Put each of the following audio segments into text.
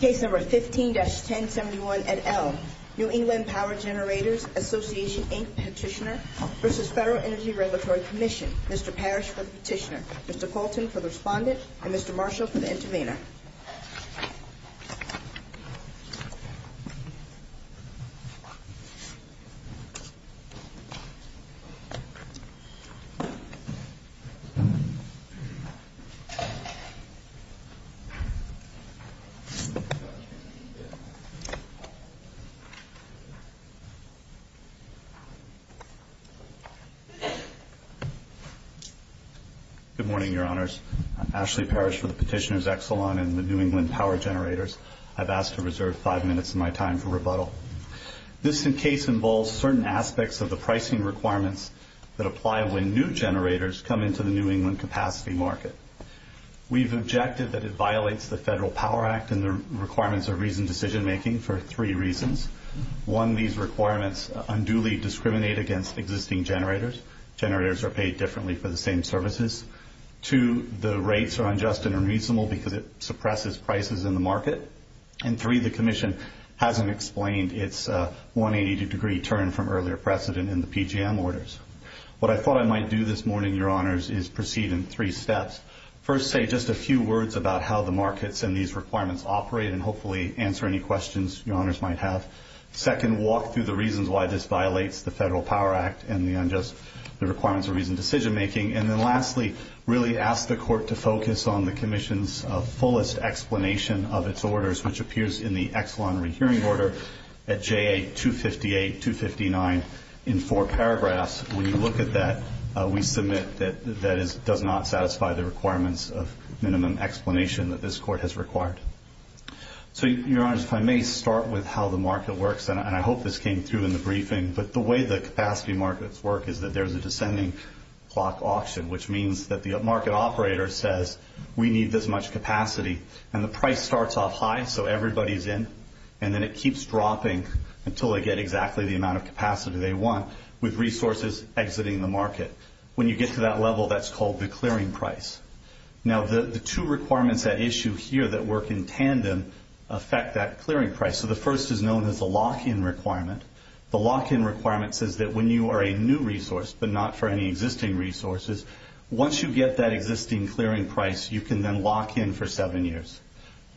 Case No. 15-1071 et al. New England Power Generators Association, Inc. Petitioner v. Federal Energy Regulatory Commission Mr. Parrish for the petitioner, Mr. Colton for the respondent, and Mr. Marshall for the intervener Good morning, Your Honors. I'm Ashley Parrish for the petitioner's excellent in the New England Power Generators. I've asked to reserve five minutes of my time for rebuttal. This case involves certain aspects of the pricing requirements that apply when new generators come into the New England capacity market. We've objected that it violates the Federal Power Act and the requirements of reasoned decision-making for three reasons. One, these requirements unduly discriminate against existing generators. Generators are paid differently for the same services. Two, the rates are unjust and unreasonable because it suppresses prices in the market. And three, the Commission hasn't explained its 180-degree turn from earlier precedent in the PGM orders. What I thought I might do this morning, Your Honors, is proceed in three steps. First, say just a few words about how the markets and these requirements operate and hopefully answer any questions Your Honors might have. Second, walk through the reasons why this violates the Federal Power Act and the requirements of reasoned decision-making. And then lastly, really ask the Court to focus on the Commission's in the Exelon rehearing order at J.A. 258-259 in four paragraphs. When you look at that, we submit that that does not satisfy the requirements of minimum explanation that this Court has required. So Your Honors, if I may start with how the market works, and I hope this came through in the briefing, but the way the capacity markets work is that there's a descending clock auction, which means that the market operator says, we need this much capacity, and the price starts off high, so everybody's in, and then it keeps dropping until they get exactly the amount of capacity they want, with resources exiting the market. When you get to that level, that's called the clearing price. Now the two requirements at issue here that work in tandem affect that clearing price. So the first is known as the lock-in requirement. The lock-in requirement says that when you are a new resource, but not for any existing resources, once you get that existing clearing price, you can then lock in for seven years.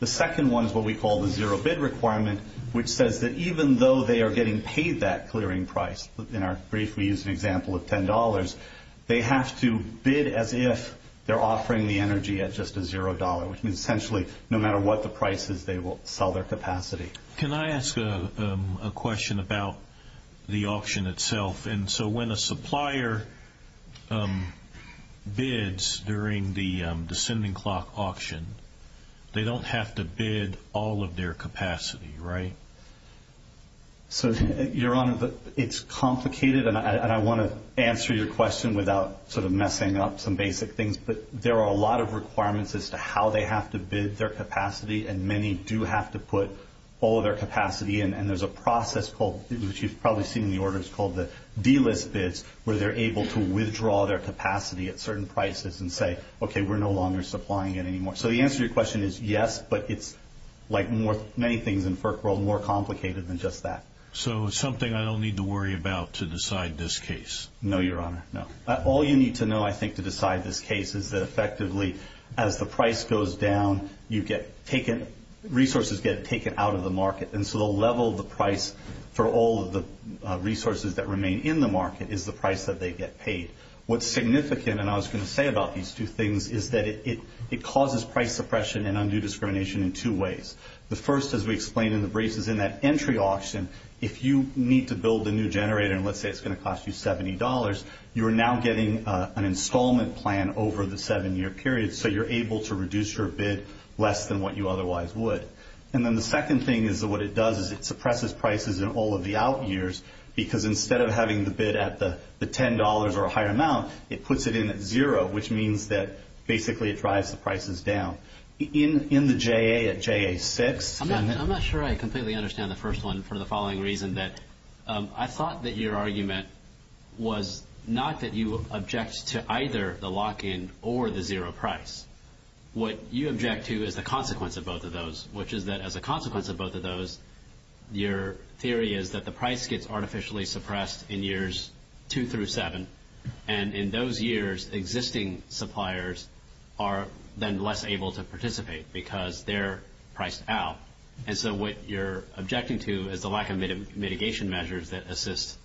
The second one is what we call the zero bid requirement, which says that even though they are getting paid that clearing price, in our brief we use an example of $10, they have to bid as if they're offering the energy at just a zero dollar, which means essentially no matter what the price is, they will sell their capacity. Can I ask a question about the auction itself? And so when a supplier bids during the descending clock auction, they don't have to bid all of their capacity, right? So Your Honor, it's complicated, and I want to answer your question without sort of messing up some basic things, but there are a lot of requirements as to how they have to bid their capacity, and many do have to put all of their capacity in, and there's a process called, which you've probably seen in the orders, called the delist bids, where they're able to withdraw their capacity at certain prices and say, okay, we're no longer supplying it anymore. So the answer to your question is yes, but it's like many things in FERC world, more complicated than just that. So it's something I don't need to worry about to decide this case? No, Your Honor, no. All you need to know, I think, to decide this case is that effectively as the price goes down, you get taken, resources get taken out of the market, and so the level of the price for all of the resources that remain in the market is the price that they get paid. What's significant, and I was going to say about these two things, is that it causes price suppression and undue discrimination in two ways. The first, as we explained in the briefs, is in that entry auction, if you need to build a new generator, and let's say it's going to cost you $70, you are now getting an installment plan over the seven-year period, so you're able to reduce your bid less than what you otherwise would. And then the second thing is that what it does is it suppresses prices in all of the out years, because instead of having the bid at the $10 or a higher amount, it puts it in at zero, which means that basically it drives the prices down. In the JA, at JA-6- I'm not sure I completely understand the first one for the following reason, that I thought that your argument was not that you object to either the lock-in or the zero price. What you object to is the consequence of both of those, which is that as a consequence of both of those, your theory is that the price gets artificially suppressed in years two through seven, and in those years, existing suppliers are then less able to participate because they're priced out. And so what you're objecting to is the lack of mitigation measures that assist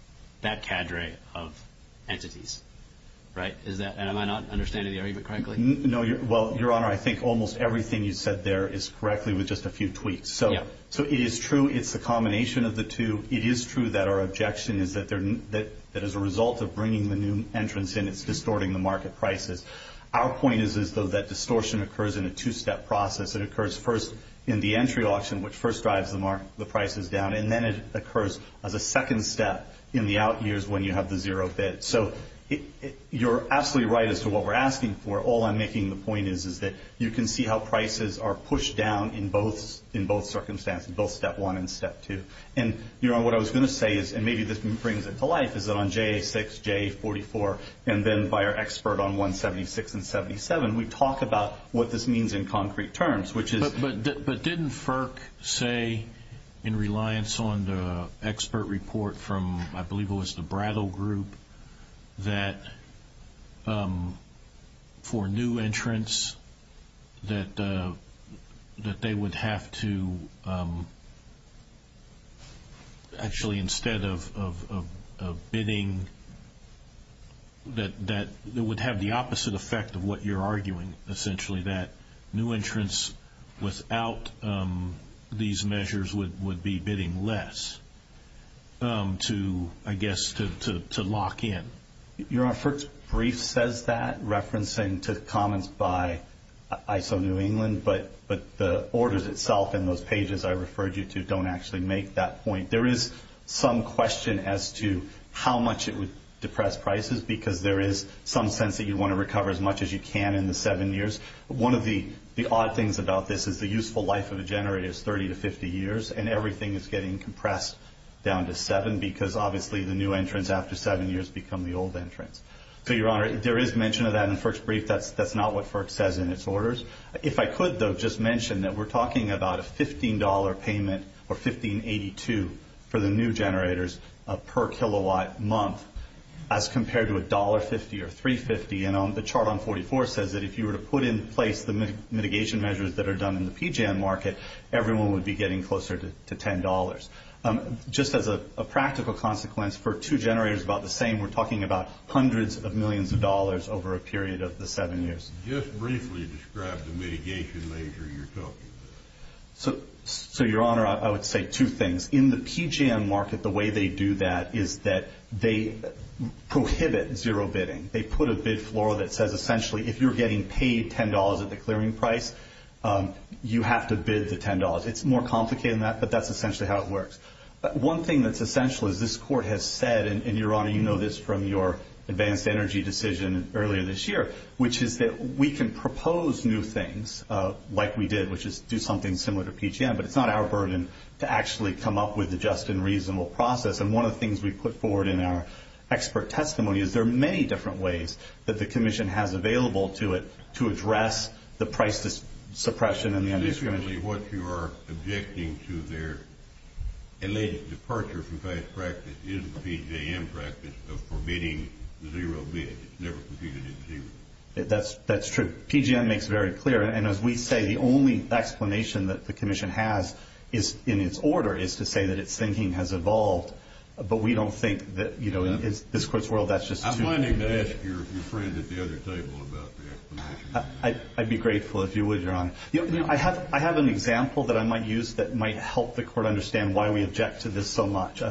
that cadre of entities, right? And am I not understanding the argument correctly? No. Well, Your Honor, I think almost everything you said there is correctly with just a few tweaks. So it is true it's a combination of the two. It is true that our objection is that as a result of bringing the new entrance in, it's distorting the market prices. Our point is as though that distortion occurs in a two-step process. It occurs first in the entry auction, which first drives the prices down, and then it occurs as a second step in the out years when you have the zero bid. So you're absolutely right as to what we're asking for. All I'm making the point is is that you can see how prices are pushed down in both circumstances, both step one and step two. And Your Honor, what I was going to say is, and maybe this brings it to life, is that on JA6, JA44, and then by our expert on 176 and 77, we talk about what this means in concrete terms, which is But didn't FERC say in reliance on the expert report from, I believe it was the Brattle Group, that for new entrants that they would have to, actually instead of bidding, that it would have the opposite effect of what you're arguing, essentially, that new entrants without these measures would be bidding less to, I guess, to lock in. Your Honor, FERC's brief says that, referencing to comments by ISO New England, but the orders itself in those pages I referred you to don't actually make that point. There is some question as to how much it would depress prices, because there is some sense that you want to recover as much as you can in the seven years. One of the odd things about this is the useful life of a generator is 30 to 50 years, and everything is getting compressed down to seven, because obviously the new entrants, after seven years, become the old entrants. So, Your Honor, there is mention of that in FERC's brief. That's not what FERC says in its orders. If I could, though, just mention that we're talking about a $15 payment, or $15.82 for the new generators per kilowatt month, as compared to $1.50 or $3.50. And on the chart on 44 says that if you were to put in place the mitigation measures that are done in the PGM market, everyone would be getting closer to $10. Just as a practical consequence, for two generators about the same, we're talking about hundreds of millions of dollars over a period of the seven years. Just briefly describe the mitigation measure you're talking about. So, Your Honor, I would say two things. In the PGM market, the way they do that is that they prohibit zero bidding. They put a bid floor that says, essentially, if you're getting paid $10 at the clearing price, you have to bid the $10. It's more complicated than that, but that's essentially how it works. One thing that's essential is this Court has said, and Your Honor, you know this from your advanced energy decision earlier this year, which is that we can propose new things like we did, which is do something similar to PGM, but it's not our burden to actually come up with a just and reasonable process. And one of the things we put forward in our expert testimony is there are many different ways that the Commission has available to it to address the price suppression and the undiscriminated bidding. Essentially, what you are objecting to there, in the departure from best practice, is the PGM practice of forbidding zero bidding. It's never computed at zero. That's true. PGM makes it very clear, and as we say, the only explanation that the Commission has, in its order, is to say that its thinking has evolved. But we don't think that, you know, in this Court's world, that's just too clear. I'm willing to ask your friend at the other table about the explanation. I'd be grateful if you would, Your Honor. You know, I have an example that I might use that might help the Court understand why we object to this so much.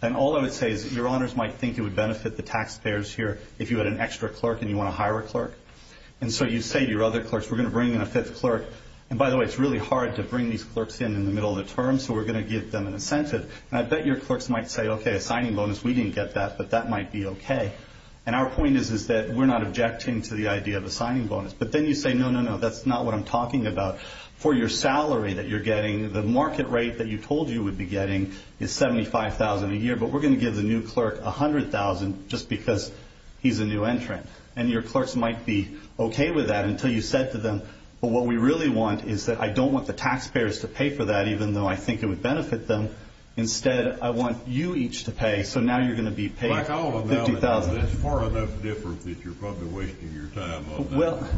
And all I would say is that Your Honors might think it would benefit the taxpayers here if you had an extra clerk and you want to hire a clerk. And so you say to your other clerks, we're going to bring in a fifth clerk. And by the way, it's really hard to bring these clerks in in the middle of the term, so we're going to give them an incentive. And I bet your clerks might say, okay, a signing bonus, we didn't get that, but that might be okay. And our point is, is that we're not objecting to the idea of a signing bonus. But then you say, no, no, no, that's not what I'm talking about. For your salary that you're getting, the market rate that you told you would be getting is $75,000 a year, but we're going to give the new clerk $100,000 just because he's a new entrant. And your clerks might be okay with that until you said to them, well, what we really want is that I don't want the taxpayers to pay for that, even though I think it would benefit them. Instead, I want you each to pay, so now you're going to be paid $50,000. Like all of that, that's far enough difference that you're probably wasting your time on that. Well,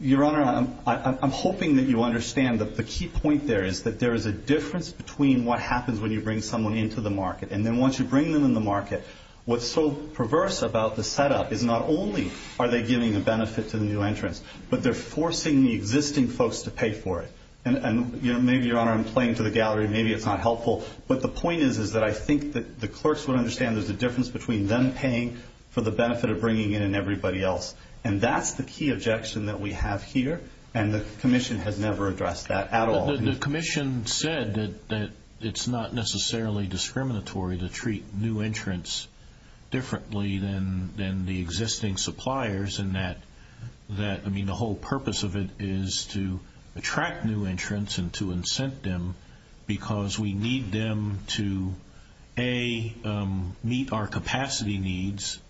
Your Honor, I'm hoping that you understand that the key point there is that there is a difference between what happens when you bring someone into the market. And then once you bring them in the market, what's so perverse about the setup is not only are they giving a benefit to the new entrants, but they're forcing the existing folks to pay for it. And maybe, Your Honor, I'm playing to the gallery, maybe it's not helpful, but the point is that I think that the clerks would understand there's a difference between them paying for the benefit of bringing in everybody else. And that's the key objection that we have here, and the Commission has never addressed that at all. The Commission said that it's not necessarily discriminatory to treat new entrants differently than the existing suppliers, and that, I mean, the whole purpose of it is to attract new entrants and to incent them because we need them to, A, meet our capacity needs,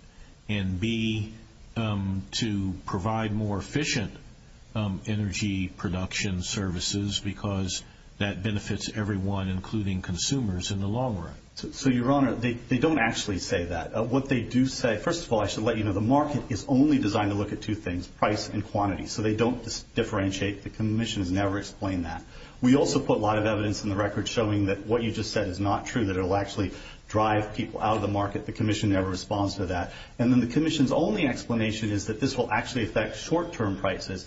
and B, to provide more efficient energy production services because that benefits everyone, including consumers, in the long run. So, Your Honor, they don't actually say that. What they do say, first of all, I should let you know, the market is only designed to look at two things, price and quantity. So they don't differentiate. The Commission has never explained that. We also put a lot of evidence in the record showing that what you just said is not true, that it will actually drive people out of the market. The Commission never responds to that. And then the Commission's only explanation is that this will actually affect short-term prices.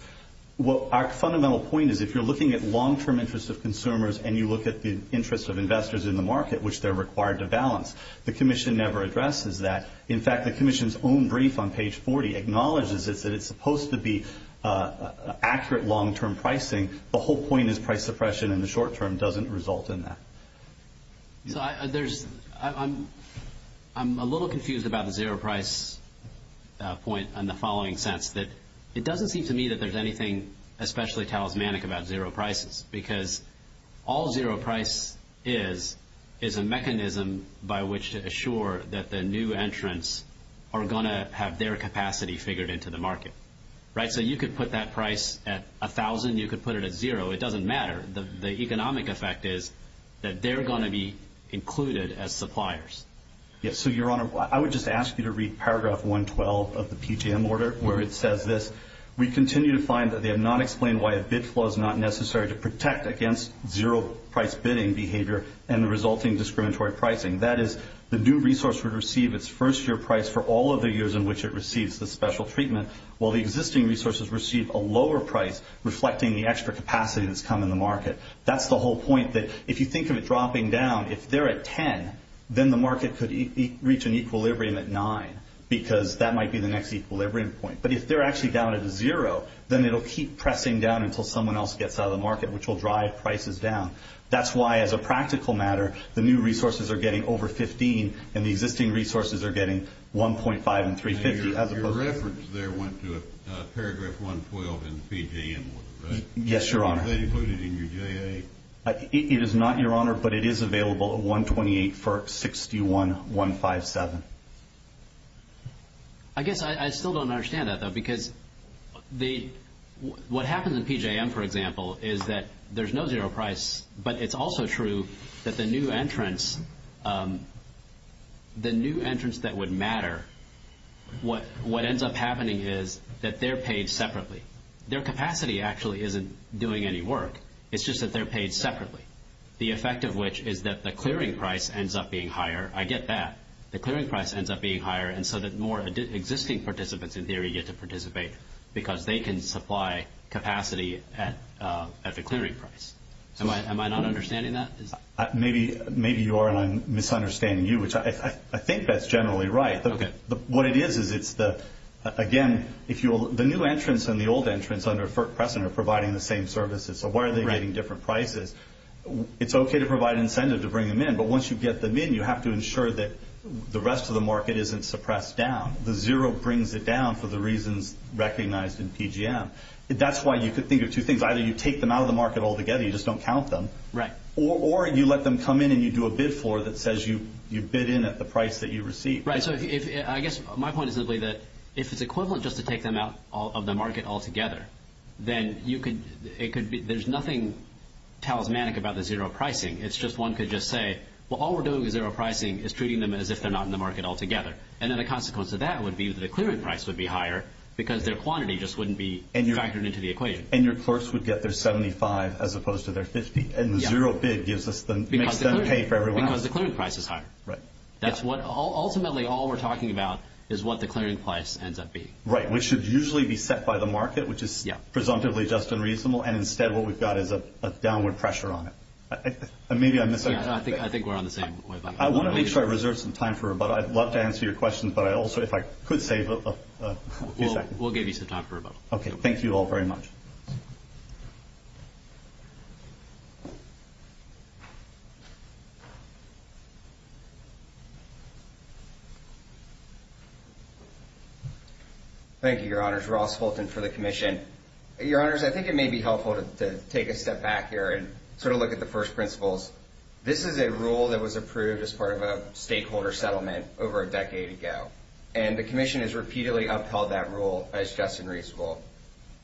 Our fundamental point is if you're looking at long-term interests of consumers and you are required to balance. The Commission never addresses that. In fact, the Commission's own brief on page 40 acknowledges this, that it's supposed to be accurate long-term pricing. The whole point is price suppression in the short-term doesn't result in that. So I'm a little confused about the zero price point in the following sense, that it doesn't seem to me that there's anything especially talismanic about zero prices because all zero price is, is a mechanism by which to assure that the new entrants are going to have their capacity figured into the market. Right? So you could put that price at a thousand, you could put it at zero. It doesn't matter. The economic effect is that they're going to be included as suppliers. Yes. So, Your Honor, I would just ask you to read paragraph 112 of the PJM order where it says this, we continue to find that they have not explained why a bid flow is not necessary to protect against zero price bidding behavior and the resulting discriminatory pricing. That is, the new resource would receive its first year price for all of the years in which it receives the special treatment, while the existing resources receive a lower price reflecting the extra capacity that's come in the market. That's the whole point, that if you think of it dropping down, if they're at 10, then the market could reach an equilibrium at 9 because that might be the next equilibrium point. But if they're actually down at zero, then it'll keep pressing down until someone else gets out of the market, which will drive prices down. That's why, as a practical matter, the new resources are getting over 15 and the existing resources are getting 1.5 and 350. Your reference there went to paragraph 112 in the PJM order, right? Yes, Your Honor. Is that included in your J.A.? It is not, Your Honor, but it is available at 128 for 61-157. I guess I still don't understand that, though, because what happens in PJM, for example, is that there's no zero price, but it's also true that the new entrance, the new entrance that would matter, what ends up happening is that they're paid separately. Their capacity actually isn't doing any work. It's just that they're paid separately, the effect of which is that the clearing price ends up being higher. I get that. The clearing price ends up being higher, and so that more existing participants, in theory, get to participate because they can supply capacity at the clearing price. Am I not understanding that? Maybe you are, and I'm misunderstanding you, which I think that's generally right. What it is is it's the, again, the new entrance and the old entrance under Fert Pressen are providing the same services, so why are they getting different prices? It's okay to provide incentive to bring them in, but once you get them in, you have to ensure that the rest of the market isn't suppressed down. The zero brings it down for the reasons recognized in PJM. That's why you could think of two things. Either you take them out of the market altogether, you just don't count them, or you let them come in and you do a bid for that says you bid in at the price that you receive. My point is simply that if it's equivalent just to take them out of the market altogether, then there's nothing talismanic about the zero pricing. It's just one could just say, well, all we're doing with zero pricing is treating them as if they're not in the market altogether, and then the consequence of that would be that the clearing price would be higher because their quantity just wouldn't be factored into the equation. And your first would get their 75 as opposed to their 50, and the zero bid makes them pay for every last one. Because the clearing price is higher. Ultimately, all we're talking about is what the clearing price ends up being. Right. Which should usually be set by the market, which is presumptively just unreasonable, and instead what we've got is a downward pressure on it. I think we're on the same wavelength. I want to make sure I reserve some time for rebuttal. I'd love to answer your questions, but also if I could save a few seconds. We'll give you some time for rebuttal. Okay. Thank you all very much. Thank you, your honors. Ross Fulton for the commission. Your honors, I think it may be helpful to take a step back here and sort of look at the first principles. This is a rule that was approved as part of a stakeholder settlement over a decade ago, and the commission has repeatedly upheld that rule as just and reasonable.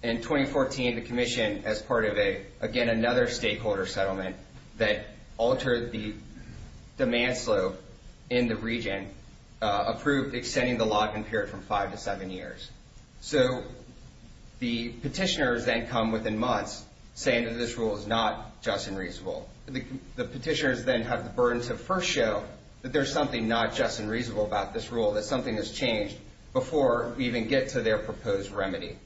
In 2014, the commission, as part of a, again, another stakeholder settlement that altered the demand slope in the region, approved extending the lock-in period from five to seven years. So the petitioners then come within months saying that this rule is not just and reasonable. The petitioners then have the burden to first show that there's something not just and reasonable about this rule, that something has changed before we even get to their proposed remedy.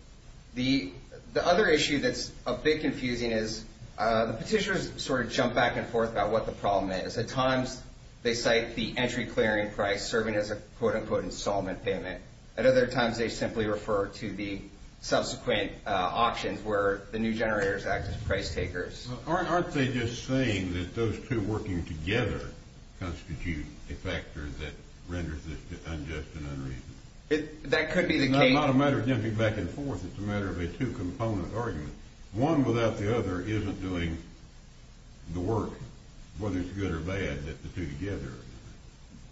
The other issue that's a bit confusing is the petitioners sort of jump back and forth about what the problem is. At times, they cite the entry clearing price serving as a quote-unquote installment payment. At other times, they simply refer to the subsequent auctions where the new generators act as price takers. Aren't they just saying that those two working together constitute a factor that renders this unjust and unreasonable? That could be the case. It's not a matter of jumping back and forth. It's a matter of a two-component argument. One without the other isn't doing the work, whether it's good or bad, that the two together.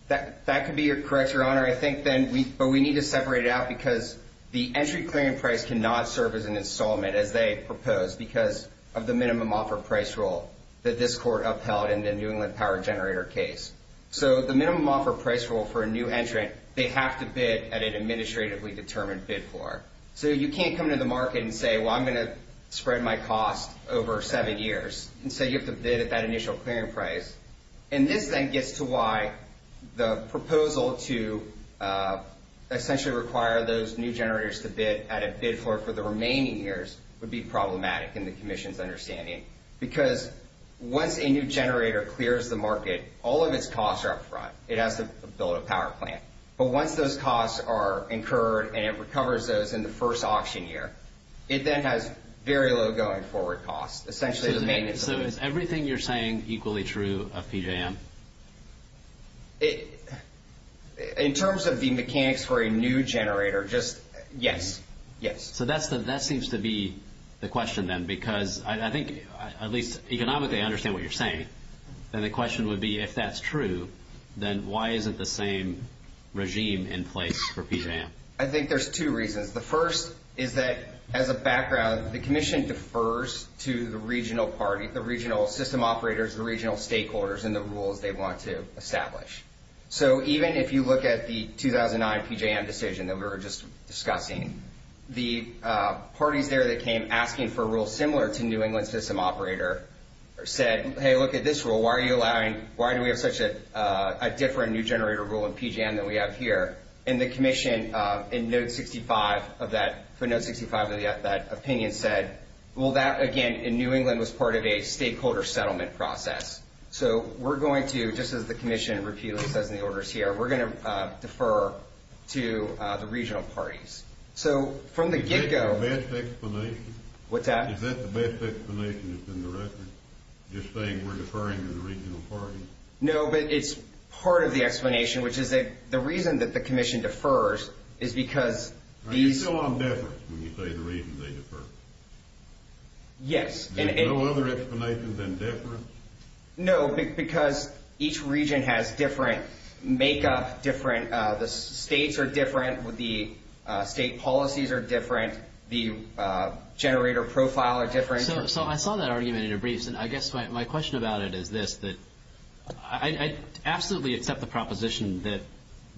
That could be correct, Your Honor. I think then we need to separate it out because the entry clearing price cannot serve as an installment as they proposed because of the minimum offer price rule that this court upheld in the New England Power Generator case. So the minimum offer price rule for a new entrant, they have to bid at an administratively determined bid floor. So you can't come to the market and say, well, I'm going to spread my cost over seven years and say you have to bid at that initial clearing price. And this then gets to why the proposal to essentially require those new generators to bid at a bid floor for the remaining years would be problematic in the commission's understanding because once a new generator clears the market, all of its costs are up front. It has to build a power plant. But once those costs are incurred and it recovers those in the first auction year, it then has very low going forward costs, essentially the maintenance of it. So is everything you're saying equally true of PJM? In terms of the mechanics for a new generator, just yes, yes. So that seems to be the question then because I think at least economically I understand what you're saying. And the question would be if that's true, then why isn't the same regime in place for PJM? I think there's two reasons. The first is that as a background, the commission defers to the regional party, the regional system operators, the regional stakeholders and the rules they want to establish. So even if you look at the 2009 PJM decision that we were just discussing, the parties there that came asking for a rule similar to New England system operator said, hey, look at this rule. Why are you allowing, why do we have such a different new generator rule in PJM than we have here? And the commission in note 65 of that, for note 65 of that opinion said, well, that again in New England was part of a stakeholder settlement process. So we're going to, just as the commission repeatedly says in the orders here, we're going to defer to the regional parties. So from the get go, Is that the best explanation? What's that? Is that the best explanation that's in the record? Just saying we're deferring to the regional parties? No, but it's part of the explanation, which is that the reason that the commission defers is because these, Are you still on deference when you say the reason they defer? Yes. There's no other explanation than deference? No, because each region has different makeup, different, the states are different with the state policies are different. The generator profile are different. So I saw that argument in your briefs, and I guess my question about it is this, that I absolutely accept the proposition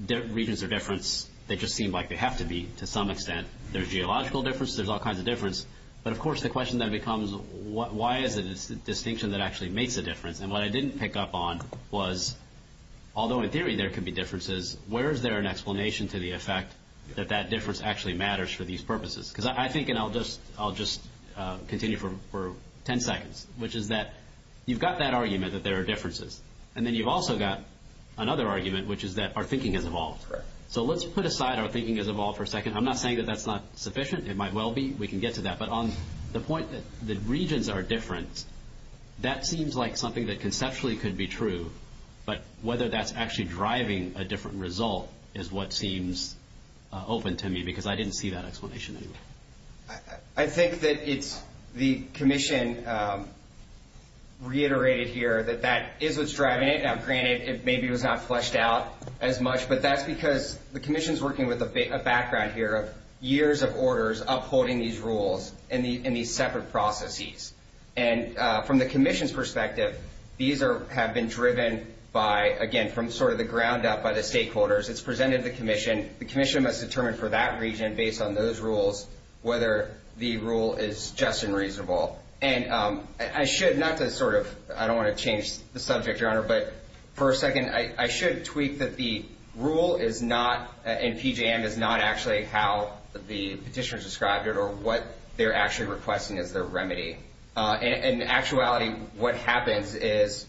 that regions are deference. They just seem like they have to be to some extent. There's geological difference. There's all kinds of deference. But of course, the question then becomes, why is it a distinction that actually makes a difference? And what I didn't pick up on was, although in theory there could be differences, where is there an explanation to the effect that that difference actually matters for these purposes? Because I think, and I'll just continue for 10 seconds, which is that you've got that argument that there are differences. And then you've also got another argument, which is that our thinking has evolved. So let's put aside our thinking has evolved for a second. I'm not saying that that's not sufficient. It might well be. We can get to that. But on the point that the regions are deference, that seems like something that conceptually could be true. But whether that's actually driving a different result is what seems open to me. Because I didn't see that explanation anywhere. I think that it's the commission reiterated here that that is what's driving it. Now, granted, maybe it was not fleshed out as much. But that's because the commission's working with a background here of years of orders upholding these rules and these separate processes. And from the commission's perspective, these have been driven by, again, from sort of the ground up by the stakeholders. It's presented to the commission. The commission must determine for that region, based on those rules, whether the rule is just and reasonable. And I should, not to sort of, I don't want to change the subject, Your Honor, but for a second, I should tweak that the rule is not, and PJM is not actually how the petitioners described it or what they're actually requesting as their remedy. In actuality, what happens is,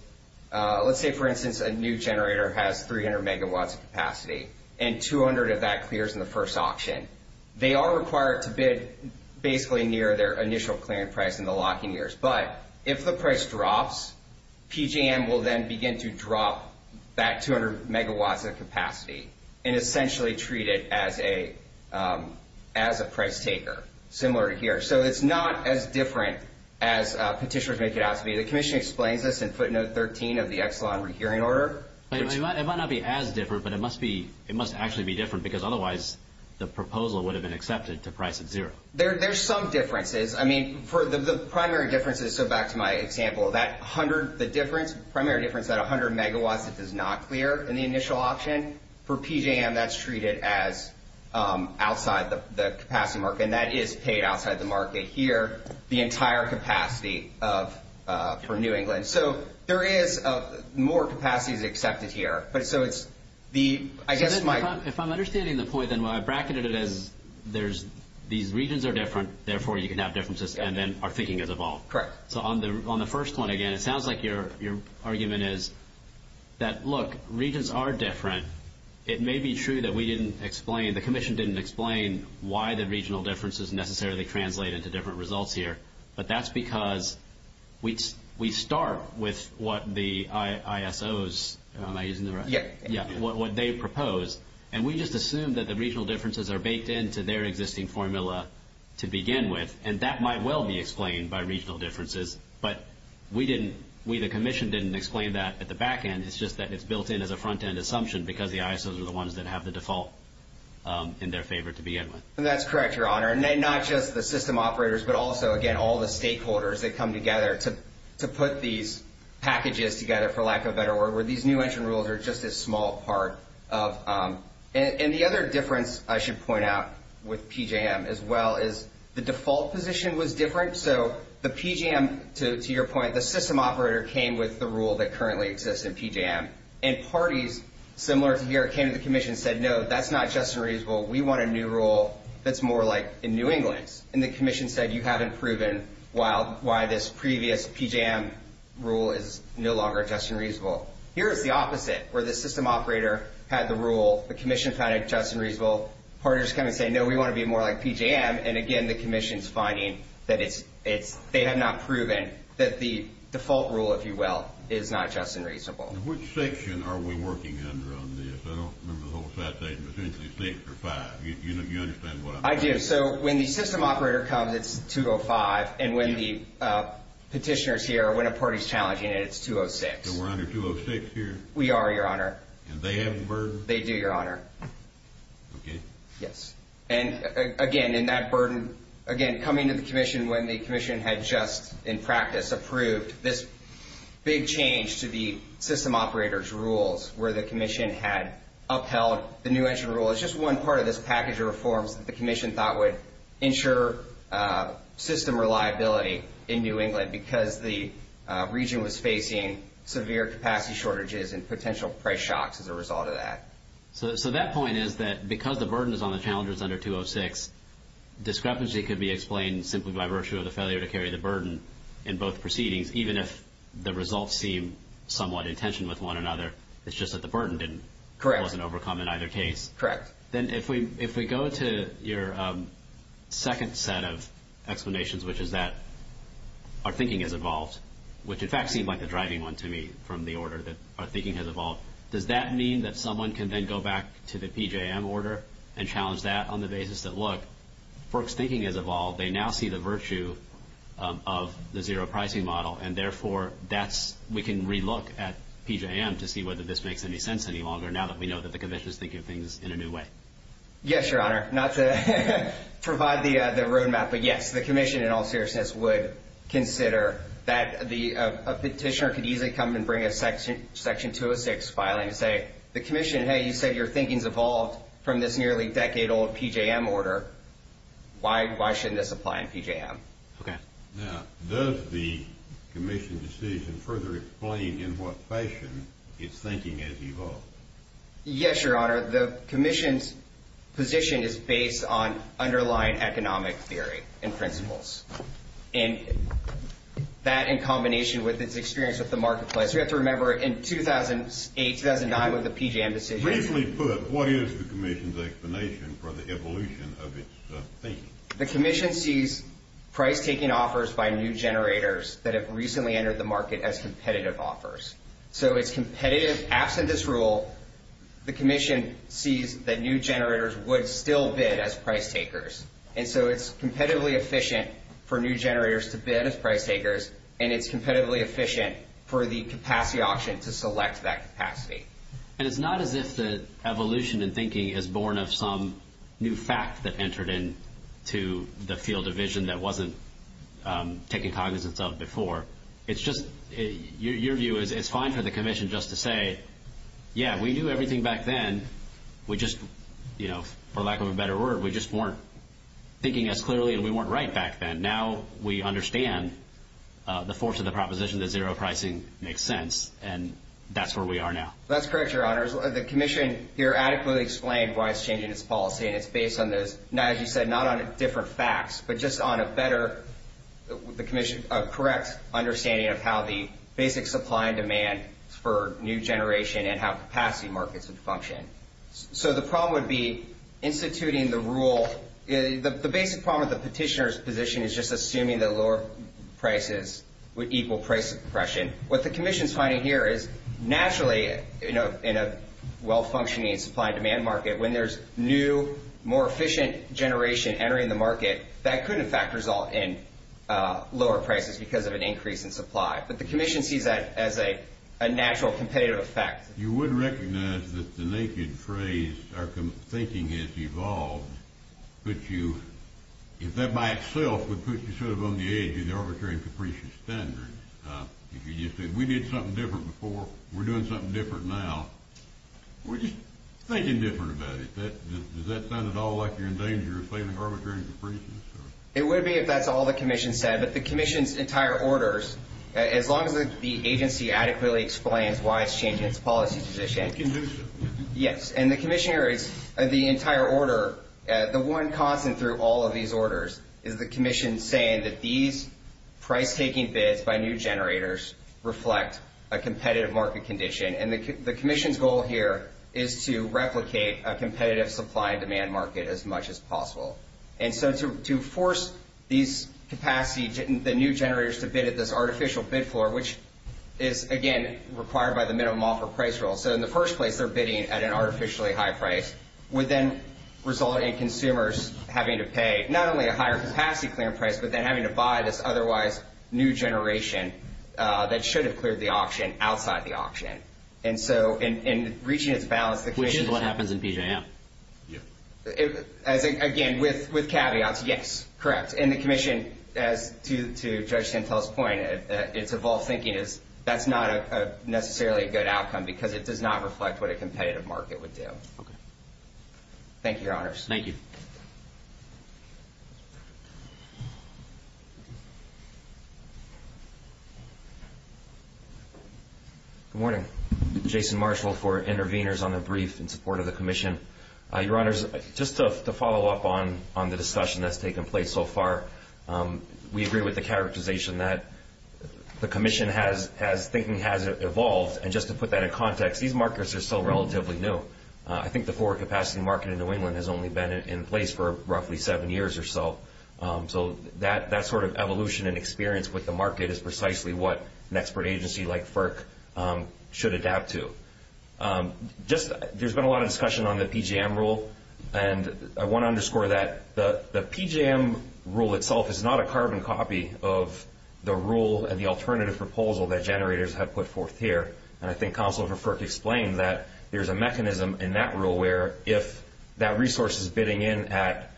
let's say, for instance, a new generator has 300 megawatts of capacity and 200 of that clears in the first auction. They are required to bid basically near their initial clearing price in the locking years. But if the price drops, PJM will then begin to drop that 200 megawatts of capacity and essentially treat it as a price taker, similar to here. So it's not as different as petitioners make it out to be. The commission explains this in footnote 13 of the Exelon rehearing order. It might not be as different, but it must actually be different because otherwise the proposal would have been accepted to price at zero. There's some differences. I mean, for the primary difference is, so back to my example, that 100, the difference, primary difference, that 100 megawatts that does not clear in the initial auction, for PJM, that's treated as outside the capacity market. And that is paid outside the market here, the entire capacity for New England. So there is more capacities accepted here. But so it's the, I guess my- If I'm understanding the point, then when I bracketed it as there's, these regions are different, therefore you can have differences and then our thinking has evolved. Correct. So on the first one, again, it sounds like your argument is that, look, regions are different. It may be true that we didn't explain, the commission didn't explain why the regional differences necessarily translate into different results here. But that's because we start with what the ISOs, am I using the right- Yeah. Yeah. What they propose. And we just assume that the regional differences are baked into their existing formula to begin with. And that might well be explained by regional differences, but we didn't, we, the commission didn't explain that at the back end. It's just that it's built in as a front end assumption because the ISOs are the ones that have the default in their favor to begin with. And that's correct, your honor. And then not just the system operators, but also again, all the stakeholders that come together to put these packages together, for lack of a better word, where these new entry rules are just as small part of. And the other difference I should point out with PJM as well is the default position was different. So the PJM, to your point, the system operator came with the rule that currently exists in PJM and parties similar to here came to the commission and said, no, that's not just unreasonable. We want a new rule that's more like in New England. And the commission said, you haven't proven why this previous PJM rule is no longer just unreasonable. Here's the opposite where the system operator had the rule, the commission found it just unreasonable. Partners come and say, no, we want to be more like PJM. And again, the commission's finding that they have not proven that the default rule, if you will, is not just unreasonable. Which section are we working under on this? I don't remember the whole citation, but essentially six or five. You understand what I'm saying? I do. So when the system operator comes, it's 205. And when the petitioner's here, when a party's challenging it, it's 206. So we're under 206 here? We are, your honor. And they have the burden? They do, your honor. Okay. Yes. And again, in that burden, again, coming to the commission when the commission had just in practice approved this big change to the system operator's rules where the commission had upheld the new engine rule, it's just one part of this package of reforms that the commission thought would ensure system reliability in New England because the region was facing severe capacity shortages and potential price shocks as a result of that. So that point is that because the burden is on the challengers under 206, discrepancy could be explained simply by virtue of the failure to carry the burden in both proceedings, even if the results seem somewhat in tension with one another. It's just that the burden wasn't overcome in either case. Correct. Then if we go to your second set of explanations, which is that our thinking has evolved, which in fact seemed like the driving one to me from the order that our thinking has evolved. Does that mean that someone can then go back to the PJM order and challenge that on the basis that, look, FERC's thinking has evolved. They now see the virtue of the zero pricing model. And therefore, we can relook at PJM to see whether this makes any sense any longer now that we know that the commission is thinking of things in a new way. Yes, your honor. Not to provide the road map, but yes, the commission in all seriousness would consider that a petitioner could easily come and bring a section 206 filing and say, the commission, hey, you said your thinking's evolved from this nearly decade-old PJM order. Why shouldn't this apply in PJM? Okay. Now, does the commission's decision further explain in what fashion its thinking has evolved? Yes, your honor. The commission's position is based on underlying economic theory and principles. And that in combination with its experience with the marketplace. You have to remember in 2008, 2009 with the PJM decision. Briefly put, what is the commission's explanation for the evolution of its thinking? The commission sees price-taking offers by new generators that have recently entered the market as competitive offers. So, it's competitive. Absent this rule, the commission sees that new generators would still bid as price-takers. And so, it's competitively efficient for new generators to bid as price-takers. And it's competitively efficient for the capacity auction to select that capacity. And it's not as if the evolution in thinking is born of some new fact that entered into the field of vision that wasn't taken cognizance of before. It's just, your view is it's fine for the commission just to say, yeah, we knew everything back then. We just, for lack of a better word, we just weren't thinking as clearly and we weren't right back then. Now, we understand the force of the proposition that zero pricing makes sense. And that's where we are now. That's correct, your honor. The commission here adequately explained why it's changing its policy. And it's based on those, as you said, not on different facts. But just on a better, the commission, a correct understanding of how the basic supply and demand function. So, the problem would be instituting the rule. The basic problem with the petitioner's position is just assuming that lower prices would equal price suppression. What the commission's finding here is, naturally, in a well-functioning supply and demand market, when there's new, more efficient generation entering the market, that could, in fact, result in lower prices because of an increase in supply. But the commission sees that as a natural competitive effect. You would recognize that the naked phrase, our thinking has evolved. But you, if that by itself would put you sort of on the edge of the arbitrary and capricious standard, if you just said, we did something different before, we're doing something different now, we're just thinking different about it. Does that sound at all like you're in danger of failing arbitrary and capricious? It would be if that's all the commission said. But the commission's entire orders, as long as the agency adequately explains why it's policy position. Condition. Yes. And the commissioner is, the entire order, the one constant through all of these orders is the commission saying that these price-taking bids by new generators reflect a competitive market condition. And the commission's goal here is to replicate a competitive supply and demand market as much as possible. And so to force these capacity, the new generators to bid at this artificial bid floor, which is, again, required by the minimum offer price rule. So in the first place, they're bidding at an artificially high price, would then result in consumers having to pay not only a higher capacity clearing price, but then having to buy this otherwise new generation that should have cleared the auction outside the auction. And so in reaching its balance, the commission... Which is what happens in PJM. Again, with caveats, yes, correct. And the commission, as to Judge Santel's point, its evolved thinking is that's not necessarily a good outcome because it does not reflect what a competitive market would do. Thank you, Your Honors. Thank you. Good morning. Jason Marshall for Intervenors on the brief in support of the commission. Your Honors, just to follow up on the discussion that's taken place so far, we agree with the characterization that the commission's thinking has evolved. And just to put that in context, these markets are still relatively new. I think the forward capacity market in New England has only been in place for roughly seven years or so. So that sort of evolution and experience with the market is precisely what an expert agency like FERC should adapt to. There's been a lot of discussion on the PJM rule. And I want to underscore that the PJM rule itself is not a carbon copy of the rule and the alternative proposal that generators have put forth here. And I think counsel for FERC explained that there's a mechanism in that rule where if that resource is bidding in at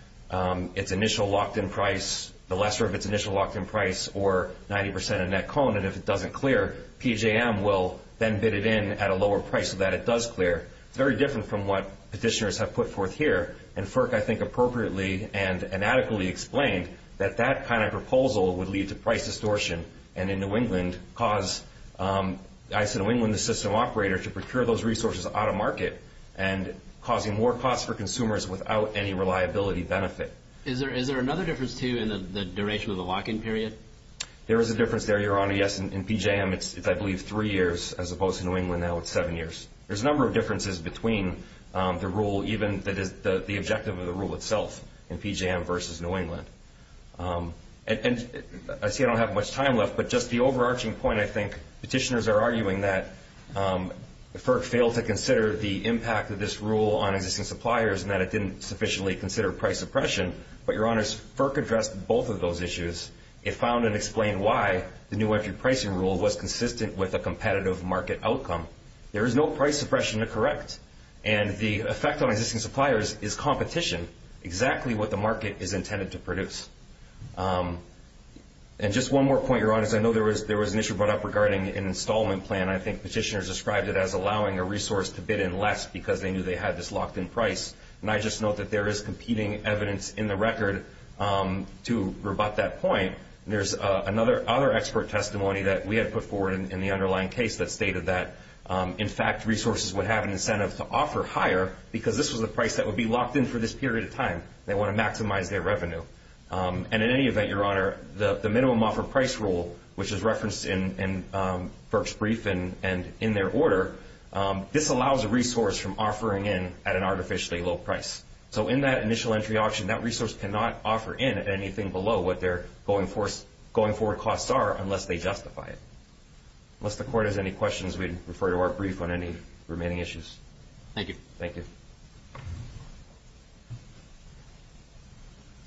its initial locked-in price, the lesser of its initial locked-in price, or 90% of net cone, and if it doesn't clear, PJM will then bid it in at a lower price so that it does clear. It's very different from what petitioners have put forth here. And FERC, I think, appropriately and adequately explained that that kind of proposal would lead to price distortion and in New England cause, I said in New England, the system operator to procure those resources out of market and causing more costs for consumers without any reliability benefit. Is there another difference, too, in the duration of the lock-in period? There is a difference there, Your Honor. Yes, in PJM, it's, I believe, three years, as opposed to New England. Now it's seven years. There's a number of differences between the rule, even the objective of the rule itself in PJM versus New England. I see I don't have much time left, but just the overarching point, I think, petitioners are arguing that FERC failed to consider the impact of this rule on existing suppliers and that it didn't sufficiently consider price suppression. But, Your Honors, FERC addressed both of those issues. It found and explained why the new entry pricing rule was consistent with a competitive market outcome. There is no price suppression to correct. And the effect on existing suppliers is competition, exactly what the market is intended to produce. And just one more point, Your Honors. I know there was an issue brought up regarding an installment plan. I think petitioners described it as allowing a resource to bid in less because they knew they had this locked-in price. And I just note that there is competing evidence in the record to rebut that point. There's another expert testimony that we had put forward in the underlying case that stated that, in fact, resources would have an incentive to offer higher because this was the price that would be locked in for this period of time. They want to maximize their revenue. And in any event, Your Honor, the minimum offer price rule, which is referenced in FERC's brief and in their order, this allows a resource from offering in at an artificially low price. So in that initial entry option, that resource cannot offer in at anything below what their going-forward costs are unless they justify it. Unless the Court has any questions, we'd refer you to our brief on any remaining issues. Thank you. Thank you.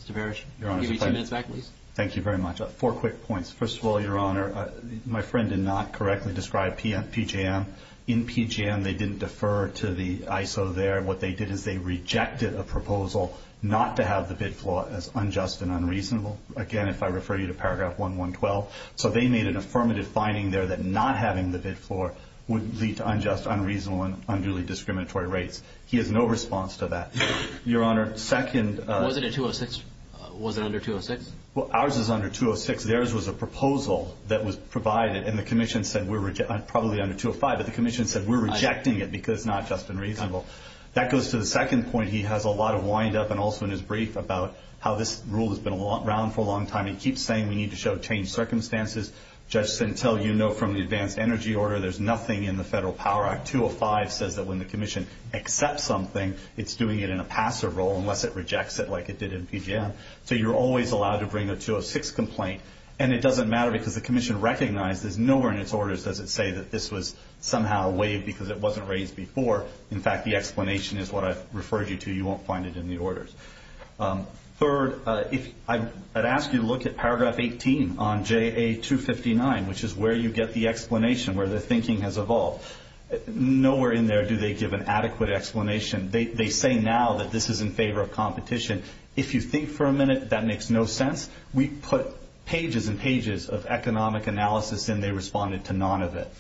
Mr. Barish, give me two minutes back, please. Thank you very much. Four quick points. First of all, Your Honor, my friend did not correctly describe PJM. In PJM, they didn't defer to the ISO there. What they did is they rejected a proposal not to have the bid floor as unjust and unreasonable. Again, if I refer you to paragraph 1.1.12. So they made an affirmative finding there that not having the bid floor would lead to unjust, unreasonable, and unduly discriminatory rates. He has no response to that. Your Honor, second— Was it a 206? Was it under 206? Well, ours is under 206. Theirs was a proposal that was provided, and the Commission said we're—probably under 205, but the Commission said we're rejecting it because it's not just and reasonable. That goes to the second point. He has a lot of wind-up, and also in his brief, about how this rule has been around for a long time. He keeps saying we need to show changed circumstances. The judge said, until you know from the advanced energy order, there's nothing in the Federal Power Act. 205 says that when the Commission accepts something, it's doing it in a passive role unless it rejects it like it did in PJM. So you're always allowed to bring a 206 complaint, and it doesn't matter because the Commission recognized there's nowhere in its orders does it say that this was somehow waived because it wasn't raised before. In fact, the explanation is what I've referred you to. You won't find it in the orders. Third, I'd ask you to look at paragraph 18 on JA259, which is where you get the explanation, where the thinking has evolved. Nowhere in there do they give an adequate explanation. They say now that this is in favor of competition. If you think for a minute that makes no sense, we put pages and pages of economic analysis and they responded to none of it.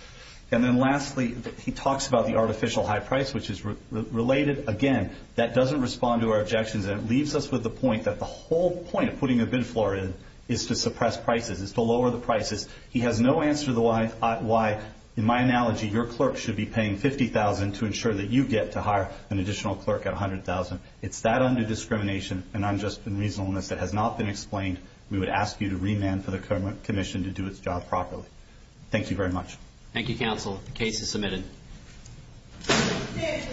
And then lastly, he talks about the artificial high price, which is related. Again, that doesn't respond to our objections, and it leaves us with the point that the whole point of putting a bid floor in is to suppress prices, is to lower the prices. He has no answer to why, in my analogy, your clerk should be paying $50,000 to ensure that you get to hire an additional clerk at $100,000. It's that under-discrimination and unjust reasonableness that has not been explained. We would ask you to remand for the commission to do its job properly. Thank you very much. Thank you, counsel. The case is submitted.